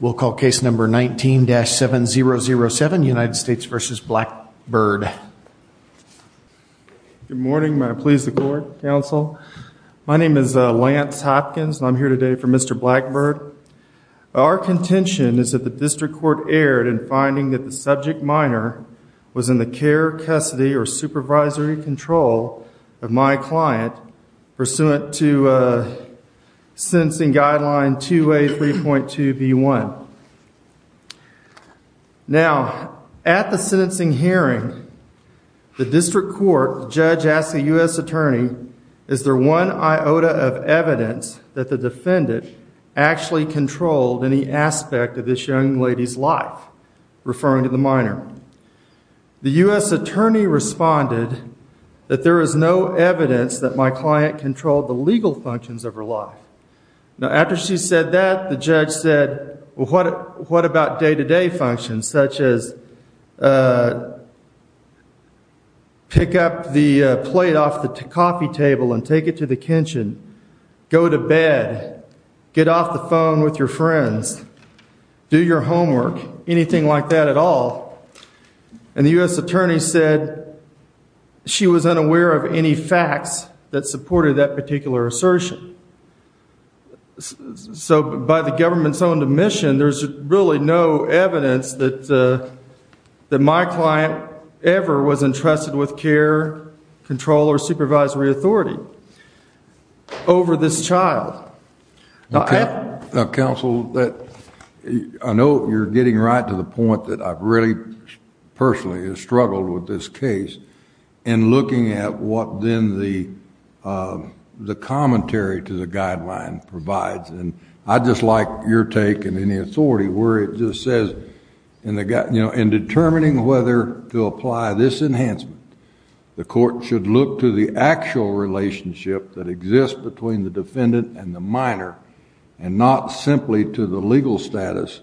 We'll call case number 19-7007, United States v. Blackbird. Good morning. May I please the court, counsel? My name is Lance Hopkins. I'm here today for Mr. Blackbird. Our contention is that the district court erred in finding that the subject minor was in the care, custody, or supervisory control of my client pursuant to sentencing guideline 2A 3.2 v. 1. Now, at the sentencing hearing, the district court judge asked the U.S. attorney, is there one iota of evidence that the defendant actually controlled any aspect of this young lady's life? Referring to the minor. The U.S. attorney responded that there is no evidence that my client controlled the legal functions of her life. Now, after she said that, the judge said, well, what about day-to-day functions such as pick up the plate off the coffee table and take it to the kitchen, go to bed, get off the phone with your friends, do your homework, anything like that at all. And the U.S. attorney said she was unaware of any facts that supported that particular assertion. So, by the government's own admission, there's really no evidence that my client ever was entrusted with care, control, or supervisory authority over this child. Now, counsel, I know you're getting right to the point that I've really personally struggled with this case in looking at what then the commentary to the guideline provides, and I'd just like your take and any authority where it just says, in determining whether to apply this enhancement, the court should look to the actual relationship that exists between the defendant and the minor and not simply to the legal status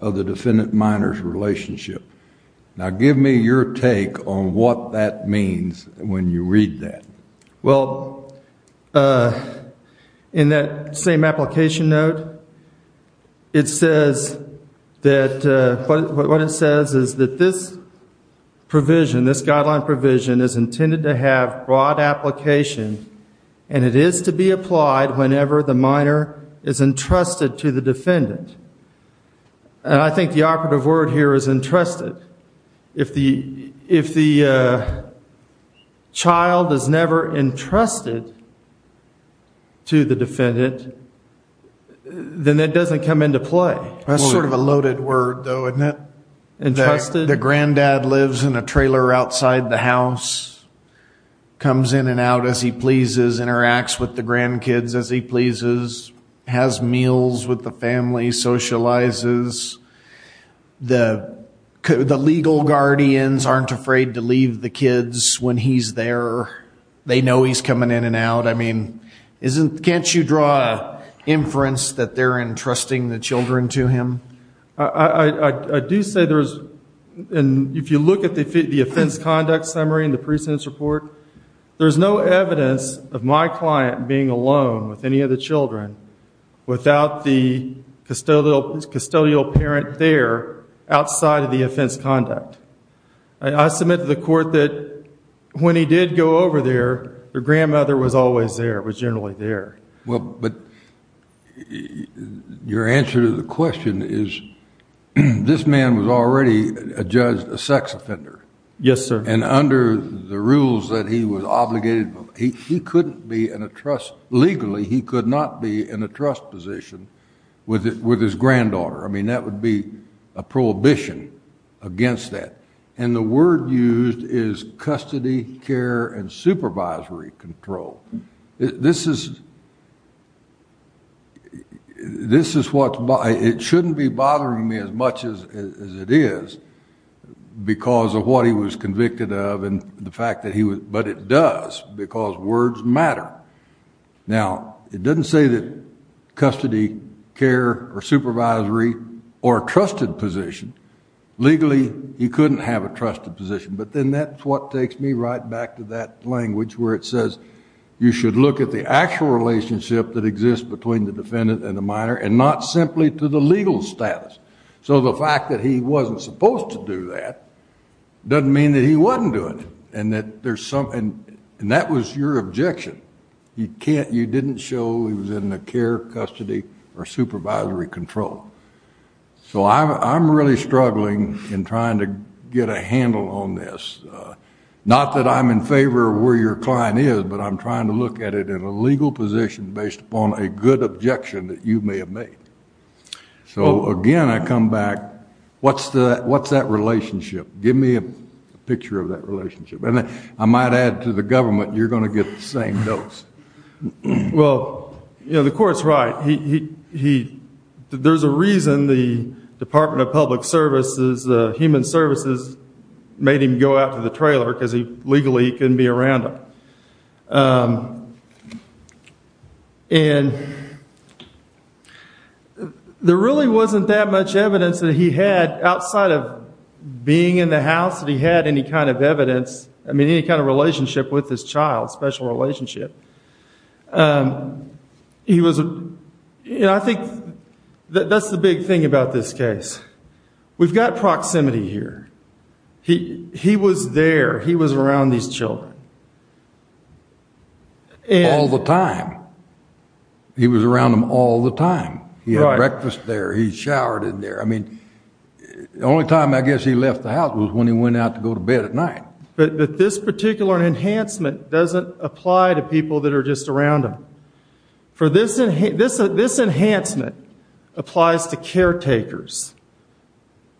of the defendant-minor's relationship. Now, give me your take on what that means when you read that. Well, in that same application note, it says that, what it says is that this provision, this guideline provision is intended to have broad application, and it is to be applied whenever the minor is entrusted to the defendant. And I think the operative word here is entrusted. If the child is never entrusted to the defendant, then it doesn't come into play. That's sort of a loaded word, though, isn't it? Entrusted? The granddad lives in a trailer outside the house, comes in and out as he pleases, interacts with the grandkids as he pleases, has meals with the family, socializes. The legal guardians aren't afraid to leave the kids when he's there. They know he's coming in and out. I mean, can't you draw inference that they're entrusting the children to him? I do say there's, and if you look at the offense conduct summary in the case of my client being alone with any of the children without the custodial parent there outside of the offense conduct, I submit to the court that when he did go over there, their grandmother was always there, was generally there. Well, but your answer to the question is this man was already a sex offender. Yes, sir. And under the rules that he was obligated, he couldn't be in a trust, legally, he could not be in a trust position with his granddaughter. I mean, that would be a prohibition against that. And the word used is custody, care, and supervisory control. This is what, it shouldn't be bothering me as much as it is because of what he was convicted of and the fact that he was, but it does because words matter. Now, it doesn't say that custody care or supervisory or trusted position, legally, he couldn't have a trusted position, but then that's what takes me right back to that language where it says you should look at the actual relationship that exists between the defendant and the minor and not simply to the legal status. So the fact that he wasn't supposed to do that doesn't mean that he wasn't doing it. And that there's something, and that was your objection. You can't, you didn't show he was in the care, custody, or supervisory control. So I'm really struggling in trying to get a handle on this. Not that I'm in favor of where your client is, but I'm trying to look at it in a legal position based upon a good objection that you may have made. So again, I come back, what's the, what's that relationship? Give me a picture of that relationship. And then I might add to the government, you're going to get the same dose. Well, you know, the court's right. He, he, he, there's a reason the department of public services, the human services made him go out to the trailer because he legally couldn't be around him. And there really wasn't that much evidence that he had outside of being in the house that he had any kind of evidence. I mean, any kind of relationship with his child, special relationship. He was, you know, I think that that's the big thing about this case. We've got proximity here. He, he was there. He was around these children. All the time. He was around them all the time. He had breakfast there. He showered in there. I mean, the only time I guess he left the house was when he went out to go to bed at night. But this particular enhancement doesn't apply to people that are just around him. For this, this, this enhancement applies to caretakers,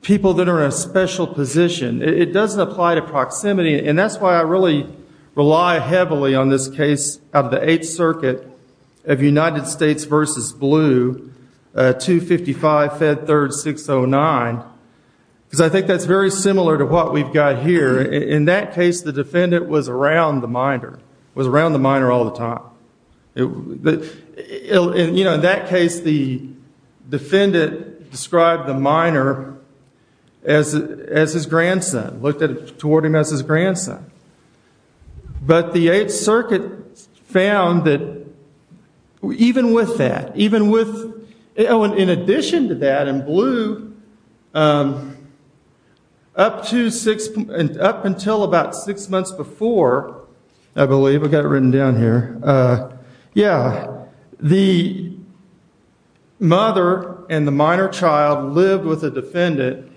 people that are in a special position. It doesn't apply to proximity. And that's why I really rely heavily on this case out of the Eighth Circuit of United States versus Blue, 255 Fed Third 609. Because I think that's very similar to what we've got here. In that case, the defendant was around the minor, was around the minor all the time. And, you know, in that case, the defendant described the minor as, as his grandson, looked at it toward him as his grandson. But the Eighth Circuit found that even with that, even with, in addition to that, in Blue, up to six, up until about six months before, I believe, I've got it written down here. Yeah, the mother and the minor child lived with a defendant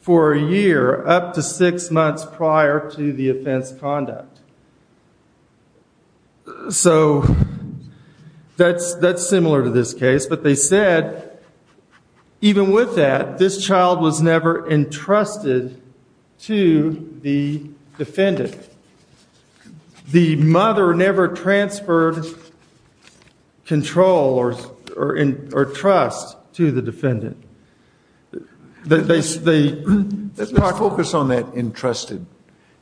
for a year, up to six months prior to the offense conduct. So that's, that's similar to this case. But they said, even with that, this child was never entrusted to the defendant. The mother never transferred control or, or, or trust to the defendant. They, they, they. Let's not focus on that entrusted.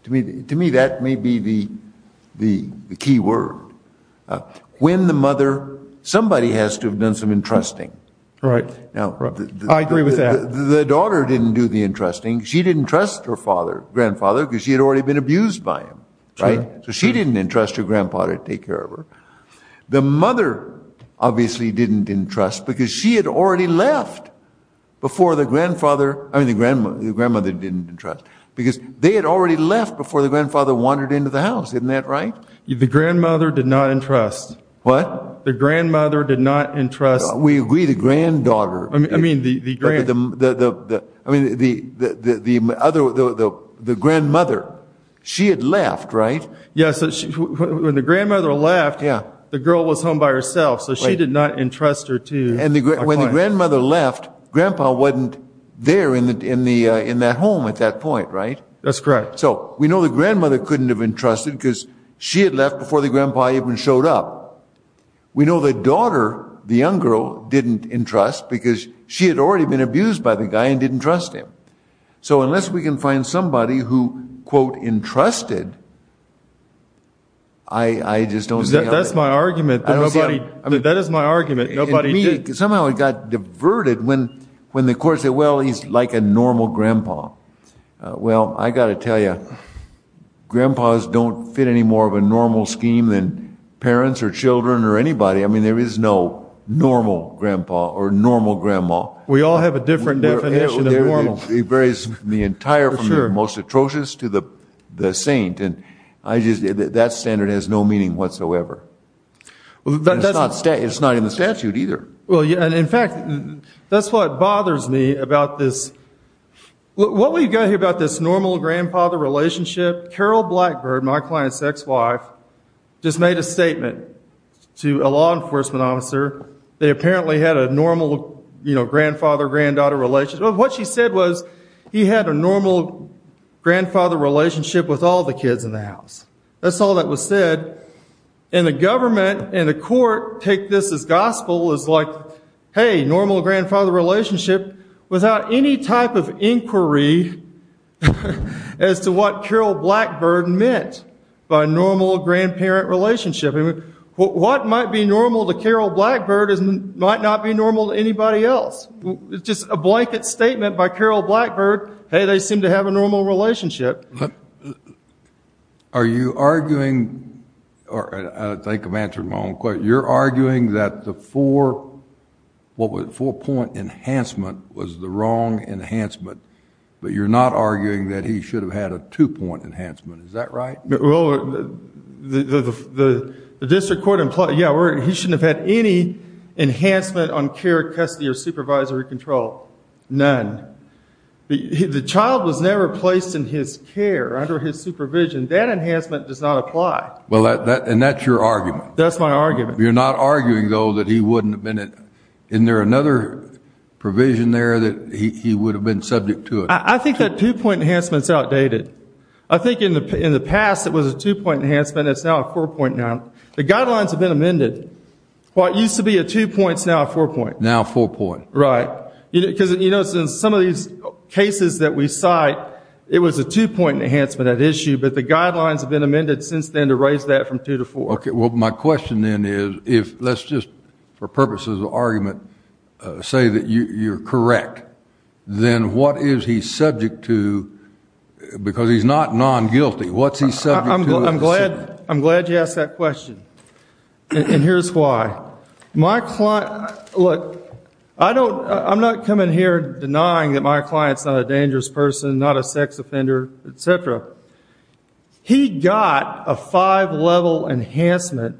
To me, to me, that may be the, the, the key word. When the mother, somebody has to have done some entrusting. Right. Now. I agree with that. The daughter didn't do the entrusting. She didn't trust her father, grandfather, because she had already been abused by him. Right? So she didn't entrust her grandfather to take care of her. The mother obviously didn't entrust, because she had already left before the grandfather, I mean the grandmother, the grandmother didn't entrust. Because they had already left before the grandfather wandered into the house. Isn't that right? The grandmother did not entrust. What? The grandmother did not entrust. We agree. The granddaughter, I mean the other, the grandmother, she had left. Right? Yes, when the grandmother left, the girl was home by herself. So she did not entrust her to. And when the grandmother left, grandpa wasn't there in that home at that point. Right? That's correct. So we know the grandmother couldn't have entrusted because she had left before the grandpa even showed up. We know the daughter, the young girl, didn't entrust because she had already been abused by the guy and didn't trust him. So unless we can find somebody who, quote, entrusted. I just don't know. That's my argument. Nobody, that is my argument. Nobody did. Somehow it got diverted when, when the court said, well, he's like a normal grandpa. Well, I got to tell you, grandpas don't fit any more of a normal scheme than parents or children or anybody. I mean, there is no normal grandpa or normal grandma. We all have a different definition of normal. It varies the entire from the most atrocious to the, the saint. And I just, that standard has no meaning whatsoever. But that's not, it's not in the statute either. Well, yeah. And in fact, that's what bothers me about this. What we got here about this normal grandfather relationship, Carol Blackbird, my client's ex-wife, just made a statement to a law enforcement officer. They apparently had a normal, you know, grandfather, granddaughter relationship. What she said was he had a normal grandfather relationship with all the kids in the house. That's all that was said. And the government and the court take this as gospel is like, hey, normal grandfather relationship without any type of inquiry as to what Carol Blackbird meant by normal grandparent relationship. I mean, what might be normal to Carol Blackbird is, might not be normal to anybody else. It's just a blanket statement by Carol Blackbird. Hey, they seem to have a normal relationship. Are you arguing, or I think I'm answering my own question. You're arguing that the four, what was four point enhancement was the wrong enhancement, but you're not arguing that he should have had a two point enhancement. Is that right? Well, the district court implied, yeah, he shouldn't have had any enhancement on care, custody, or supervisory control. None. The child was never placed in his care, under his supervision. That enhancement does not apply. Well, and that's your argument. That's my argument. You're not arguing, though, that he wouldn't have been, isn't there another provision there that he would have been subject to it? I think that two point enhancement is outdated. I think in the past, it was a two point enhancement. It's now a four point now. The guidelines have been amended. What used to be a two point is now a four point. Now a four point. Right, because you notice in some of these cases that we cite, it was a two point enhancement at issue, but the guidelines have been amended since then to raise that from two to four. Okay. Well, my question then is, if let's just, for purposes of argument, say that you're correct, then what is he subject to, because he's not non-guilty. What's he subject to? I'm glad, I'm glad you asked that question. And here's why. My client, look, I don't, I'm not coming here denying that my client's not a dangerous person, not a sex offender, et cetera. He got a five level enhancement.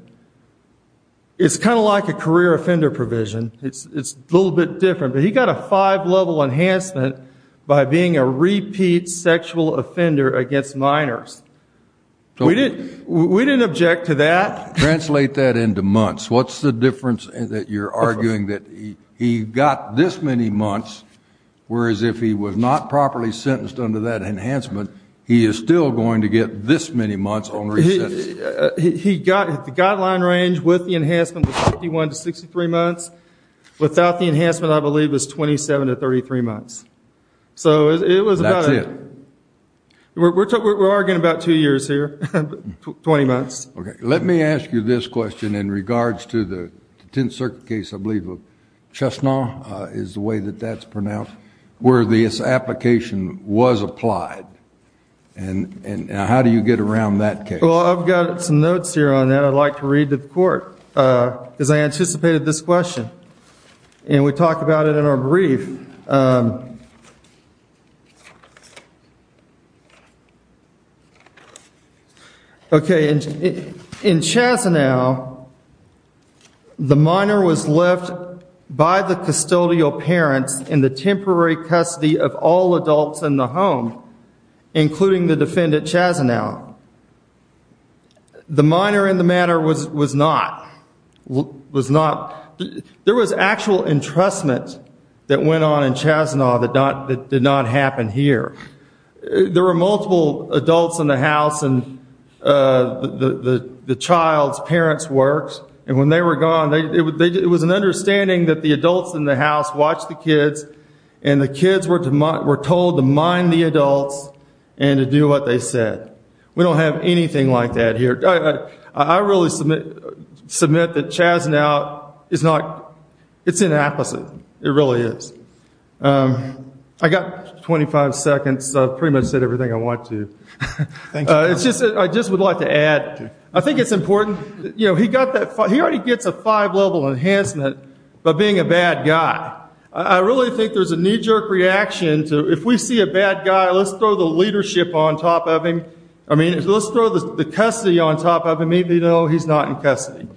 It's kind of like a career offender provision. It's, it's a little bit different, but he got a five level enhancement by being a repeat sexual offender against minors. We didn't, we didn't object to that. Translate that into months. What's the difference that you're arguing that he, he got this many months, whereas if he was not properly sentenced under that enhancement, he is still going to get this many months on resentment. He got, the guideline range with the enhancement was 51 to 63 months. Without the enhancement, I believe it was 27 to 33 months. So it was about, we're talking, we're arguing about two years here, 20 months. Okay. Let me ask you this question in regards to the 10th circuit case, I believe of Chestnut is the way that that's pronounced, where this application was applied. And, and how do you get around that case? Well, I've got some notes here on that. I'd like to read to the court, because I anticipated this question and we talked about it in our brief. Okay. In Chazanow, the minor was left by the custodial parents in the temporary custody of all adults in the home, including the defendant Chazanow. The minor in the matter was, was not, was not, there was actual entrustment that went on in Chazanow that not, that did not happen here. There were multiple adults in the house and the, the, the child's parents works. And when they were gone, they, it was an understanding that the adults in the house watched the kids and the kids were, were told to mind the adults and to do what they said. We don't have anything like that here. I really submit, submit that Chazanow is not, it's inapplicable. It really is. I got 25 seconds. So I've pretty much said everything I want to. It's just, I just would like to add, I think it's important, you know, he got that, he already gets a five level enhancement by being a bad guy. I really think there's a knee jerk reaction to, if we see a bad guy, let's throw the leadership on top of him. I mean, let's throw the custody on top of him even though he's not in custody.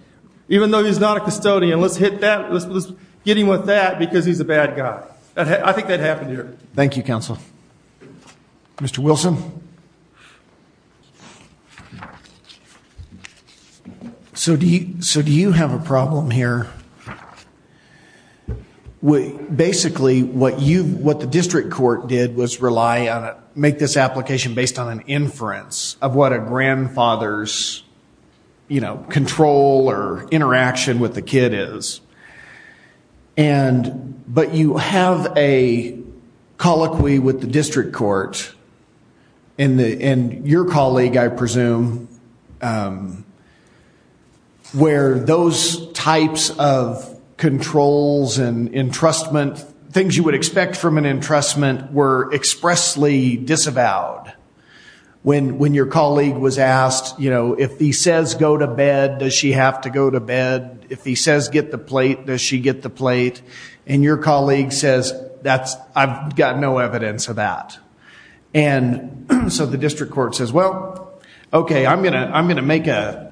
Even though he's not a custodian, let's hit that, let's get him with that because he's a bad guy. I think that happened here. Thank you, counsel. Mr. Wilson. So do you, so do you have a problem here? We basically, what you, what the district court did was rely on it, make this application based on an inference of what a grandfather's, you know, control or interaction with the kid is. And, but you have a colloquy with the district court and the, and your colleague, I presume, where those types of controls and entrustment, things you would expect from an entrustment were expressly disavowed when, when your colleague was asked, you know, if he says, go to bed, does she have to go to bed? If he says, get the plate, does she get the plate? And your colleague says, that's, I've got no evidence of that. And so the district court says, well, okay, I'm going to, I'm going to make a,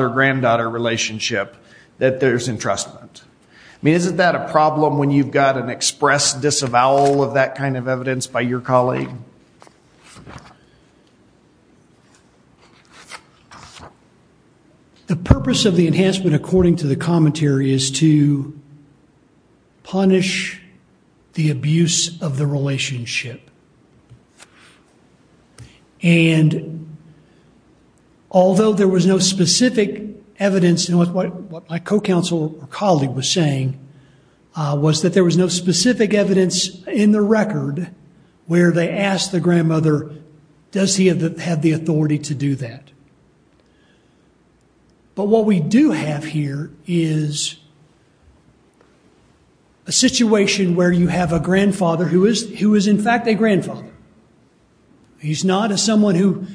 a granddaughter relationship that there's entrustment. I mean, isn't that a problem when you've got an express disavowal of that kind of evidence by your colleague? The purpose of the enhancement, according to the commentary is to punish the abuse of the relationship. And although there was no specific evidence in what, what my co-counsel or colleague was saying was that there was no specific evidence in the record where they asked the grandmother, does he have the authority to do that? But what we do have here is a situation where you have a grandfather who is, who is not a grandfather. He's not a someone who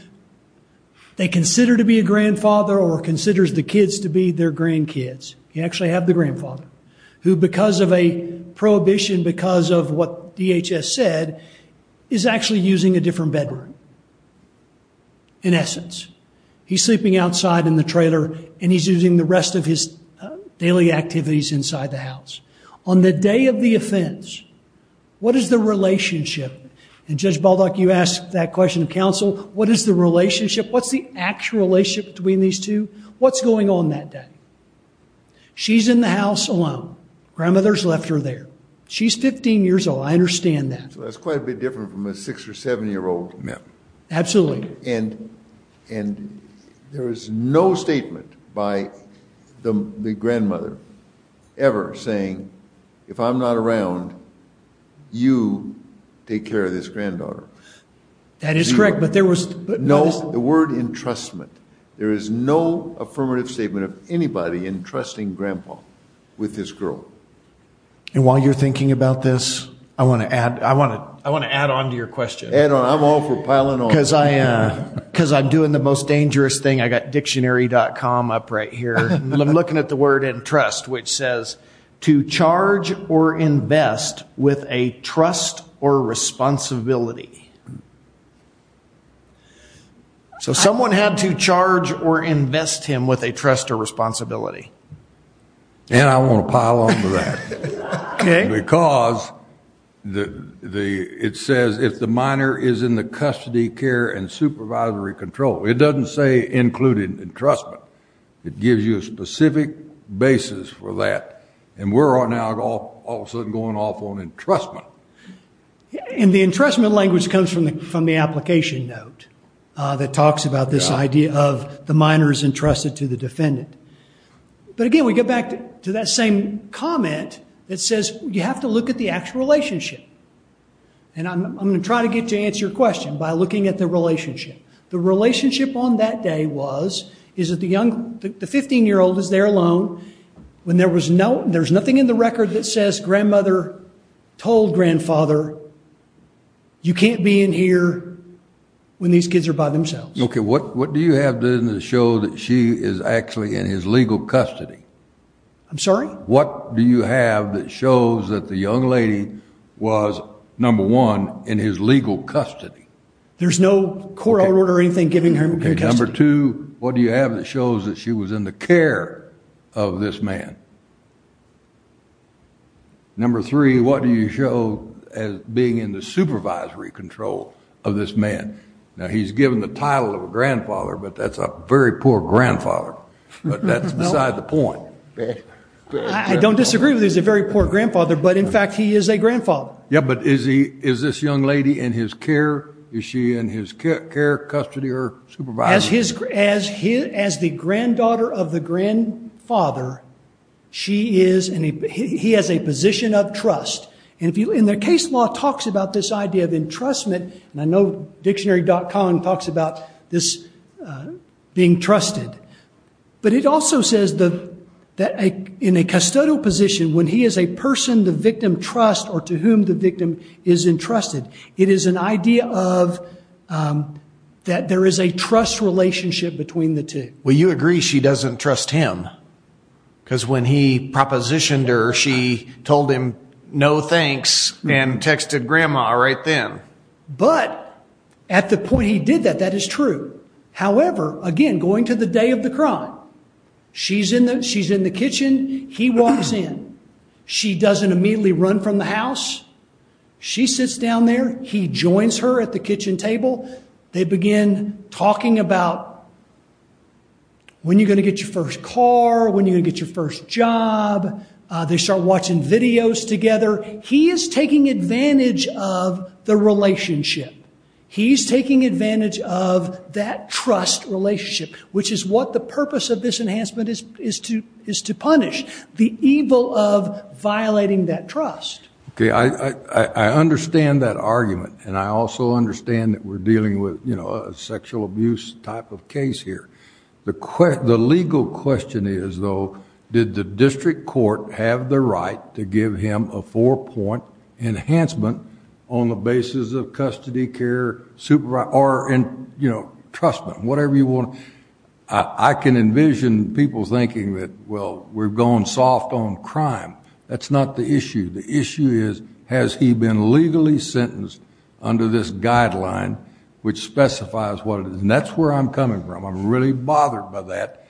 they consider to be a grandfather or considers the kids to be their grandkids. You actually have the grandfather who, because of a prohibition, because of what DHS said, is actually using a different bedroom. In essence, he's sleeping outside in the trailer and he's using the rest of his daily activities inside the house. On the day of the offense, what is the relationship? And Judge Baldock, you asked that question of counsel. What is the relationship? What's the actual relationship between these two? What's going on that day? She's in the house alone. Grandmother's left her there. She's 15 years old. I understand that. So that's quite a bit different from a six or seven year old. Absolutely. And, and there is no statement by the grandmother ever saying, if I'm not around, you take care of this granddaughter. That is correct. But there was no word entrustment. There is no affirmative statement of anybody entrusting grandpa with this girl. And while you're thinking about this, I want to add, I want to, I want to add on to your question. And I'm all for piling on because I, uh, cause I'm doing the most dangerous thing. I got dictionary.com up right here. I'm looking at the word and trust, which says to charge or invest with a trust or responsibility. So someone had to charge or invest him with a trust or responsibility. And I want to pile on to that because the, the, it says if the minor is in the custody care and supervisory control, it doesn't say included entrustment. It gives you a specific basis for that. And we're all now all of a sudden going off on entrustment. And the entrustment language comes from the, from the application note, uh, that talks about this idea of the minor's entrusted to the defendant. But again, we get back to that same comment that says you have to look at the actual relationship. And I'm going to try to get to answer your question by looking at the relationship. The relationship on that day was, is that the young, the 15 year old is there alone. When there was no, there's nothing in the record that says grandmother told grandfather, you can't be in here when these kids are by themselves. Okay. What, what do you have to show that she is actually in his legal custody? I'm sorry. What do you have that shows that the young lady was number one in his legal custody? There's no court order or anything, giving her number two, what do you have that shows that she was in the care of this man? Number three, what do you show as being in the supervisory control of this man? Now he's given the title of a grandfather, but that's a very poor grandfather, but that's beside the point. I don't disagree with it. He's a very poor grandfather, but in fact, he is a grandfather. Yeah. But is he, is this young lady in his care? Is she in his care, custody or supervisor? As his, as his, as the granddaughter of the grandfather, she is, and he, he has a position of trust. And if you, in the case law talks about this idea of entrustment, and I know dictionary.com talks about this being trusted, but it also says that in a custodial position, when he is a person, the victim trust or to whom the victim is entrusted. It is an idea of that. There is a trust relationship between the two. Well, you agree. She doesn't trust him because when he propositioned her, she told him no thanks and texted grandma right then. But at the point he did that, that is true. However, again, going to the day of the crime, she's in the, she's in the kitchen. He walks in, she doesn't immediately run from the house. She sits down there. He joins her at the kitchen table. They begin talking about when you're going to get your first car, when you're gonna get your first job. They start watching videos together. He is taking advantage of the relationship. He's taking advantage of that trust relationship, which is what the purpose of this enhancement is to punish. The evil of violating that trust. Okay, I understand that argument and I also understand that we're dealing with, you know, a sexual abuse type of case here. The legal question is though, did the district court have the right to give him a four point enhancement on the basis of custody, care, supervisor, or in, you know, trust them, whatever you want. I can envision people thinking that, well, we're going soft on crime. That's not the issue. The issue is, has he been legally sentenced under this guideline, which specifies what it is? And that's where I'm coming from. I'm really bothered by that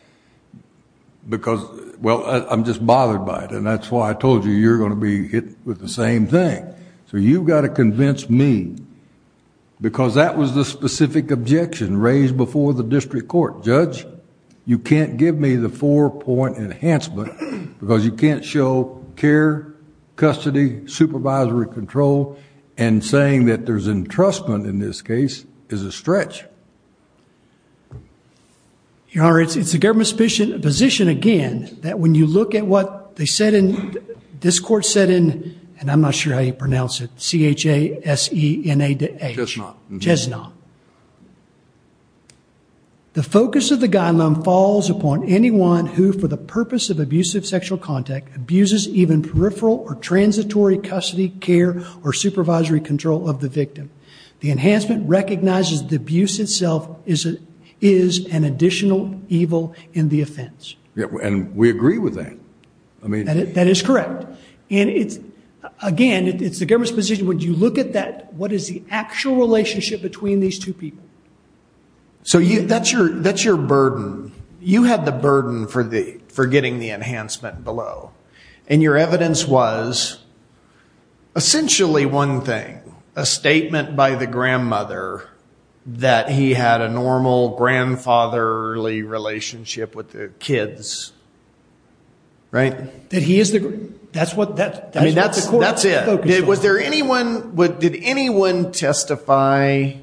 because, well, I'm just bothered by it. And that's why I told you you're going to be hit with the same thing. So you've got to convince me because that was the specific objection raised before the district court. Judge, you can't give me the four point enhancement because you can't show care, custody, supervisory control, and saying that there's entrustment in this case is a stretch. Your Honor, it's the government's position again, that when you look at what they said in, this court said in, and I'm not sure how you pronounce it, C-H-A-S-E-N-A-D-A. Chesnaugh. Chesnaugh. The focus of the guideline falls upon anyone who, for the purpose of abusive sexual contact, abuses even peripheral or transitory custody, care, or supervisory control of the victim. The enhancement recognizes the abuse itself is an additional evil in the offense. Yeah, and we agree with that. I mean, that is correct. And it's, again, it's the government's position. When you look at that, what is the actual relationship between these two people? So you, that's your, that's your burden. You had the burden for the, for getting the enhancement below. And your evidence was essentially one thing, a statement by the grandmother that he had a normal grandfatherly relationship with the kids. Right. That he is the, that's what that, that's the court's focus on. I mean, that's it. Was there anyone, did anyone testify,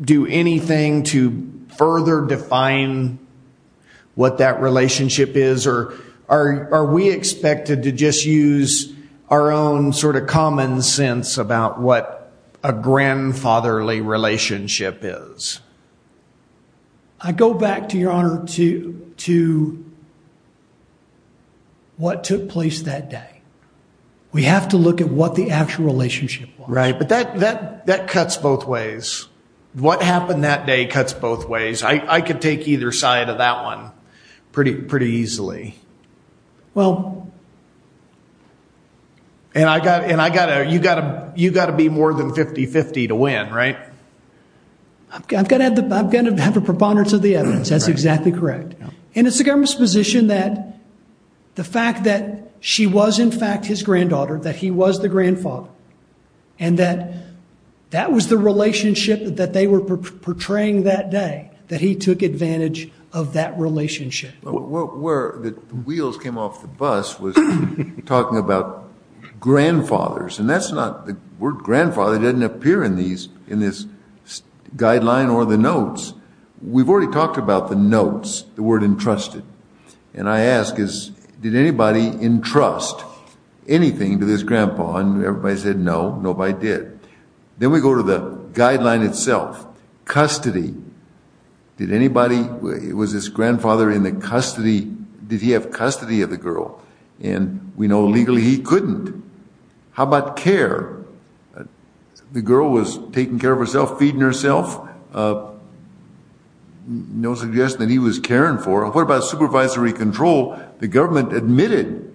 do anything to further define what that relationship is? Or are we expected to just use our own sort of common sense about what a grandfatherly relationship is? I go back to your honor to, to what took place that day. We have to look at what the actual relationship was. Right. But that, that, that cuts both ways. What happened that day cuts both ways. I could take either side of that one pretty, pretty easily. Well. And I got, and I got to, you got to, you got to be more than 50-50 to win. Right? I've got to have the, I've got to have a preponderance of the evidence. That's exactly correct. And it's the government's position that the fact that she was in fact his granddaughter, that he was the grandfather and that that was the relationship that they were portraying that day, that he took advantage of that relationship. Where the wheels came off the bus was talking about grandfathers and that's not, the word grandfather doesn't appear in these, in this guideline or the notes. We've already talked about the notes, the word entrusted. And I ask is, did anybody entrust anything to this grandpa? And everybody said, no, nobody did. Then we go to the guideline itself, custody. Did anybody, was his grandfather in the custody? Did he have custody of the girl? And we know legally he couldn't. How about care? The girl was taking care of herself, feeding herself. No suggestion that he was caring for her. What about supervisory control? The government admitted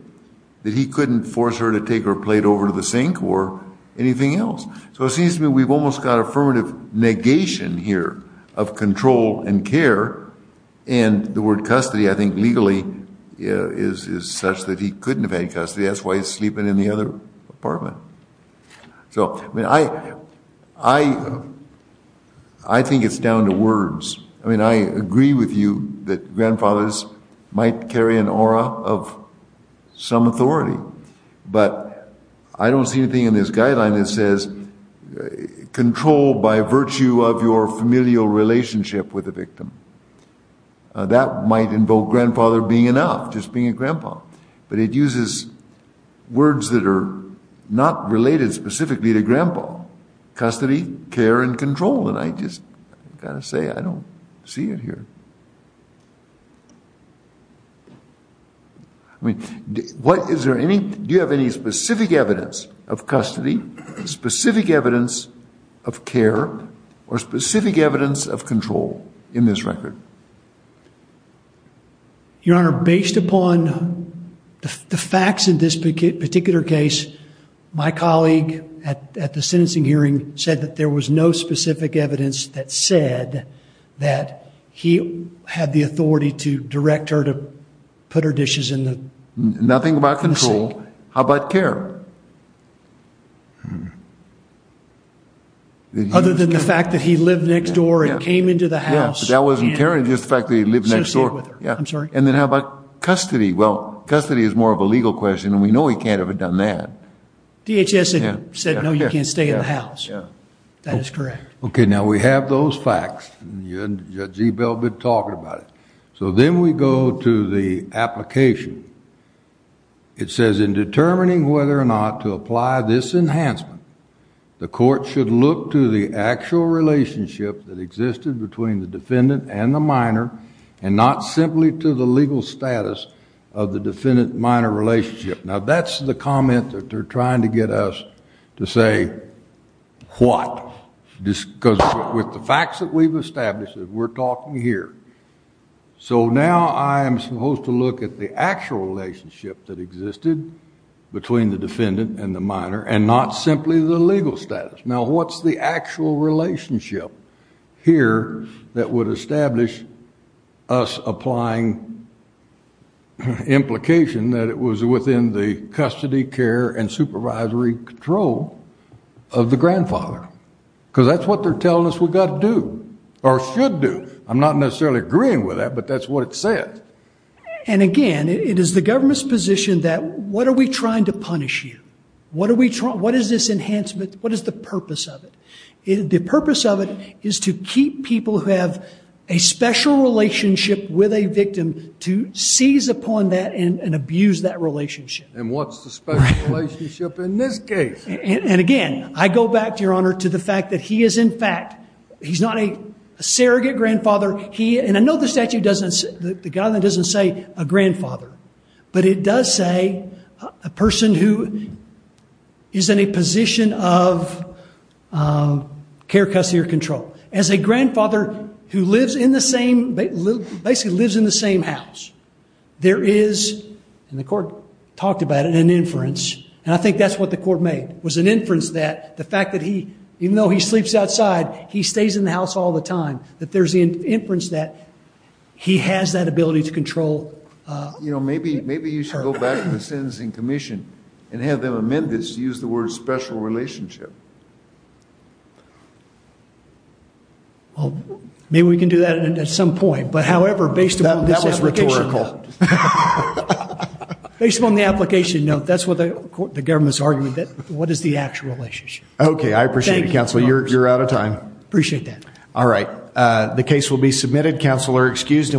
that he couldn't force her to take her plate over to the sink or anything else. So it seems to me we've almost got affirmative negation here of control and care. And the word custody, I think legally is such that he couldn't have had custody. That's why he's sleeping in the other apartment. So, I mean, I, I, I think it's down to words. I mean, I agree with you that grandfathers might carry an aura of some authority, but I don't see anything in this guideline that says control by virtue of your familial relationship with the victim. That might invoke grandfather being enough, just being a grandpa. But it uses words that are not related specifically to grandpa. Custody, care, and control. And I just got to say, I don't see it here. I mean, what is there any, do you have any specific evidence of custody, specific evidence of care, or specific evidence of control in this record? Your Honor, based upon the facts in this particular case, my colleague at the sentencing hearing said that there was no specific evidence that said that he had the authority to direct her to put her dishes in the sink. Nothing about control. How about care? Other than the fact that he lived next door and came into the house. Yeah, but that wasn't care, just the fact that he lived next door. Yeah. I'm sorry. And then how about custody? Well, custody is more of a legal question, and we know he can't have done that. DHS said no, you can't stay in the house. Yeah. That is correct. Okay. Now we have those facts, and Judge Ebell has been talking about it. So then we go to the application. It says in determining whether or not to apply this enhancement, the court should look to the actual relationship that existed between the defendant and the minor, and not simply to the legal status of the defendant-minor relationship. Now, that's the comment that they're trying to get us to say what, because with the facts that we've established, we're talking here. So now I'm supposed to look at the actual relationship that existed between the defendant and the minor, and not simply the legal status. Now, what's the actual relationship here that would establish us applying implication that it was within the custody, care, and supervisory control of the grandfather? Because that's what they're telling us we've got to do, or should do. I'm not necessarily agreeing with that, but that's what it said. And again, it is the government's position that what are we trying to punish you? What are we trying? What is this enhancement? What is the purpose of it? The purpose of it is to keep people who have a special relationship with a victim to seize upon that and abuse that relationship. And what's the special relationship in this case? And again, I go back to your honor to the fact that he is in fact, he's not a surrogate grandfather. He, and I know the statute doesn't, the guideline doesn't say a grandfather, but it does say a person who is in a position of care, custody, or control. As a grandfather who lives in the same, basically lives in the same house, there is, and the court talked about it in inference, and I think that's what the court made, was an inference that the fact that he, even though he sleeps outside, he stays in the house all the time, that there's an inference that he has that ability to control. You know, maybe, maybe you should go back to the sentencing commission and have them amend this to use the word special relationship. Well, maybe we can do that at some point, but however, based upon this application note, based upon the application note, that's what the government's argument that what is the actual relationship? Okay. I appreciate it, counsel. You're, you're out of time. Appreciate that. All right. The case will be submitted. Counsel are excused.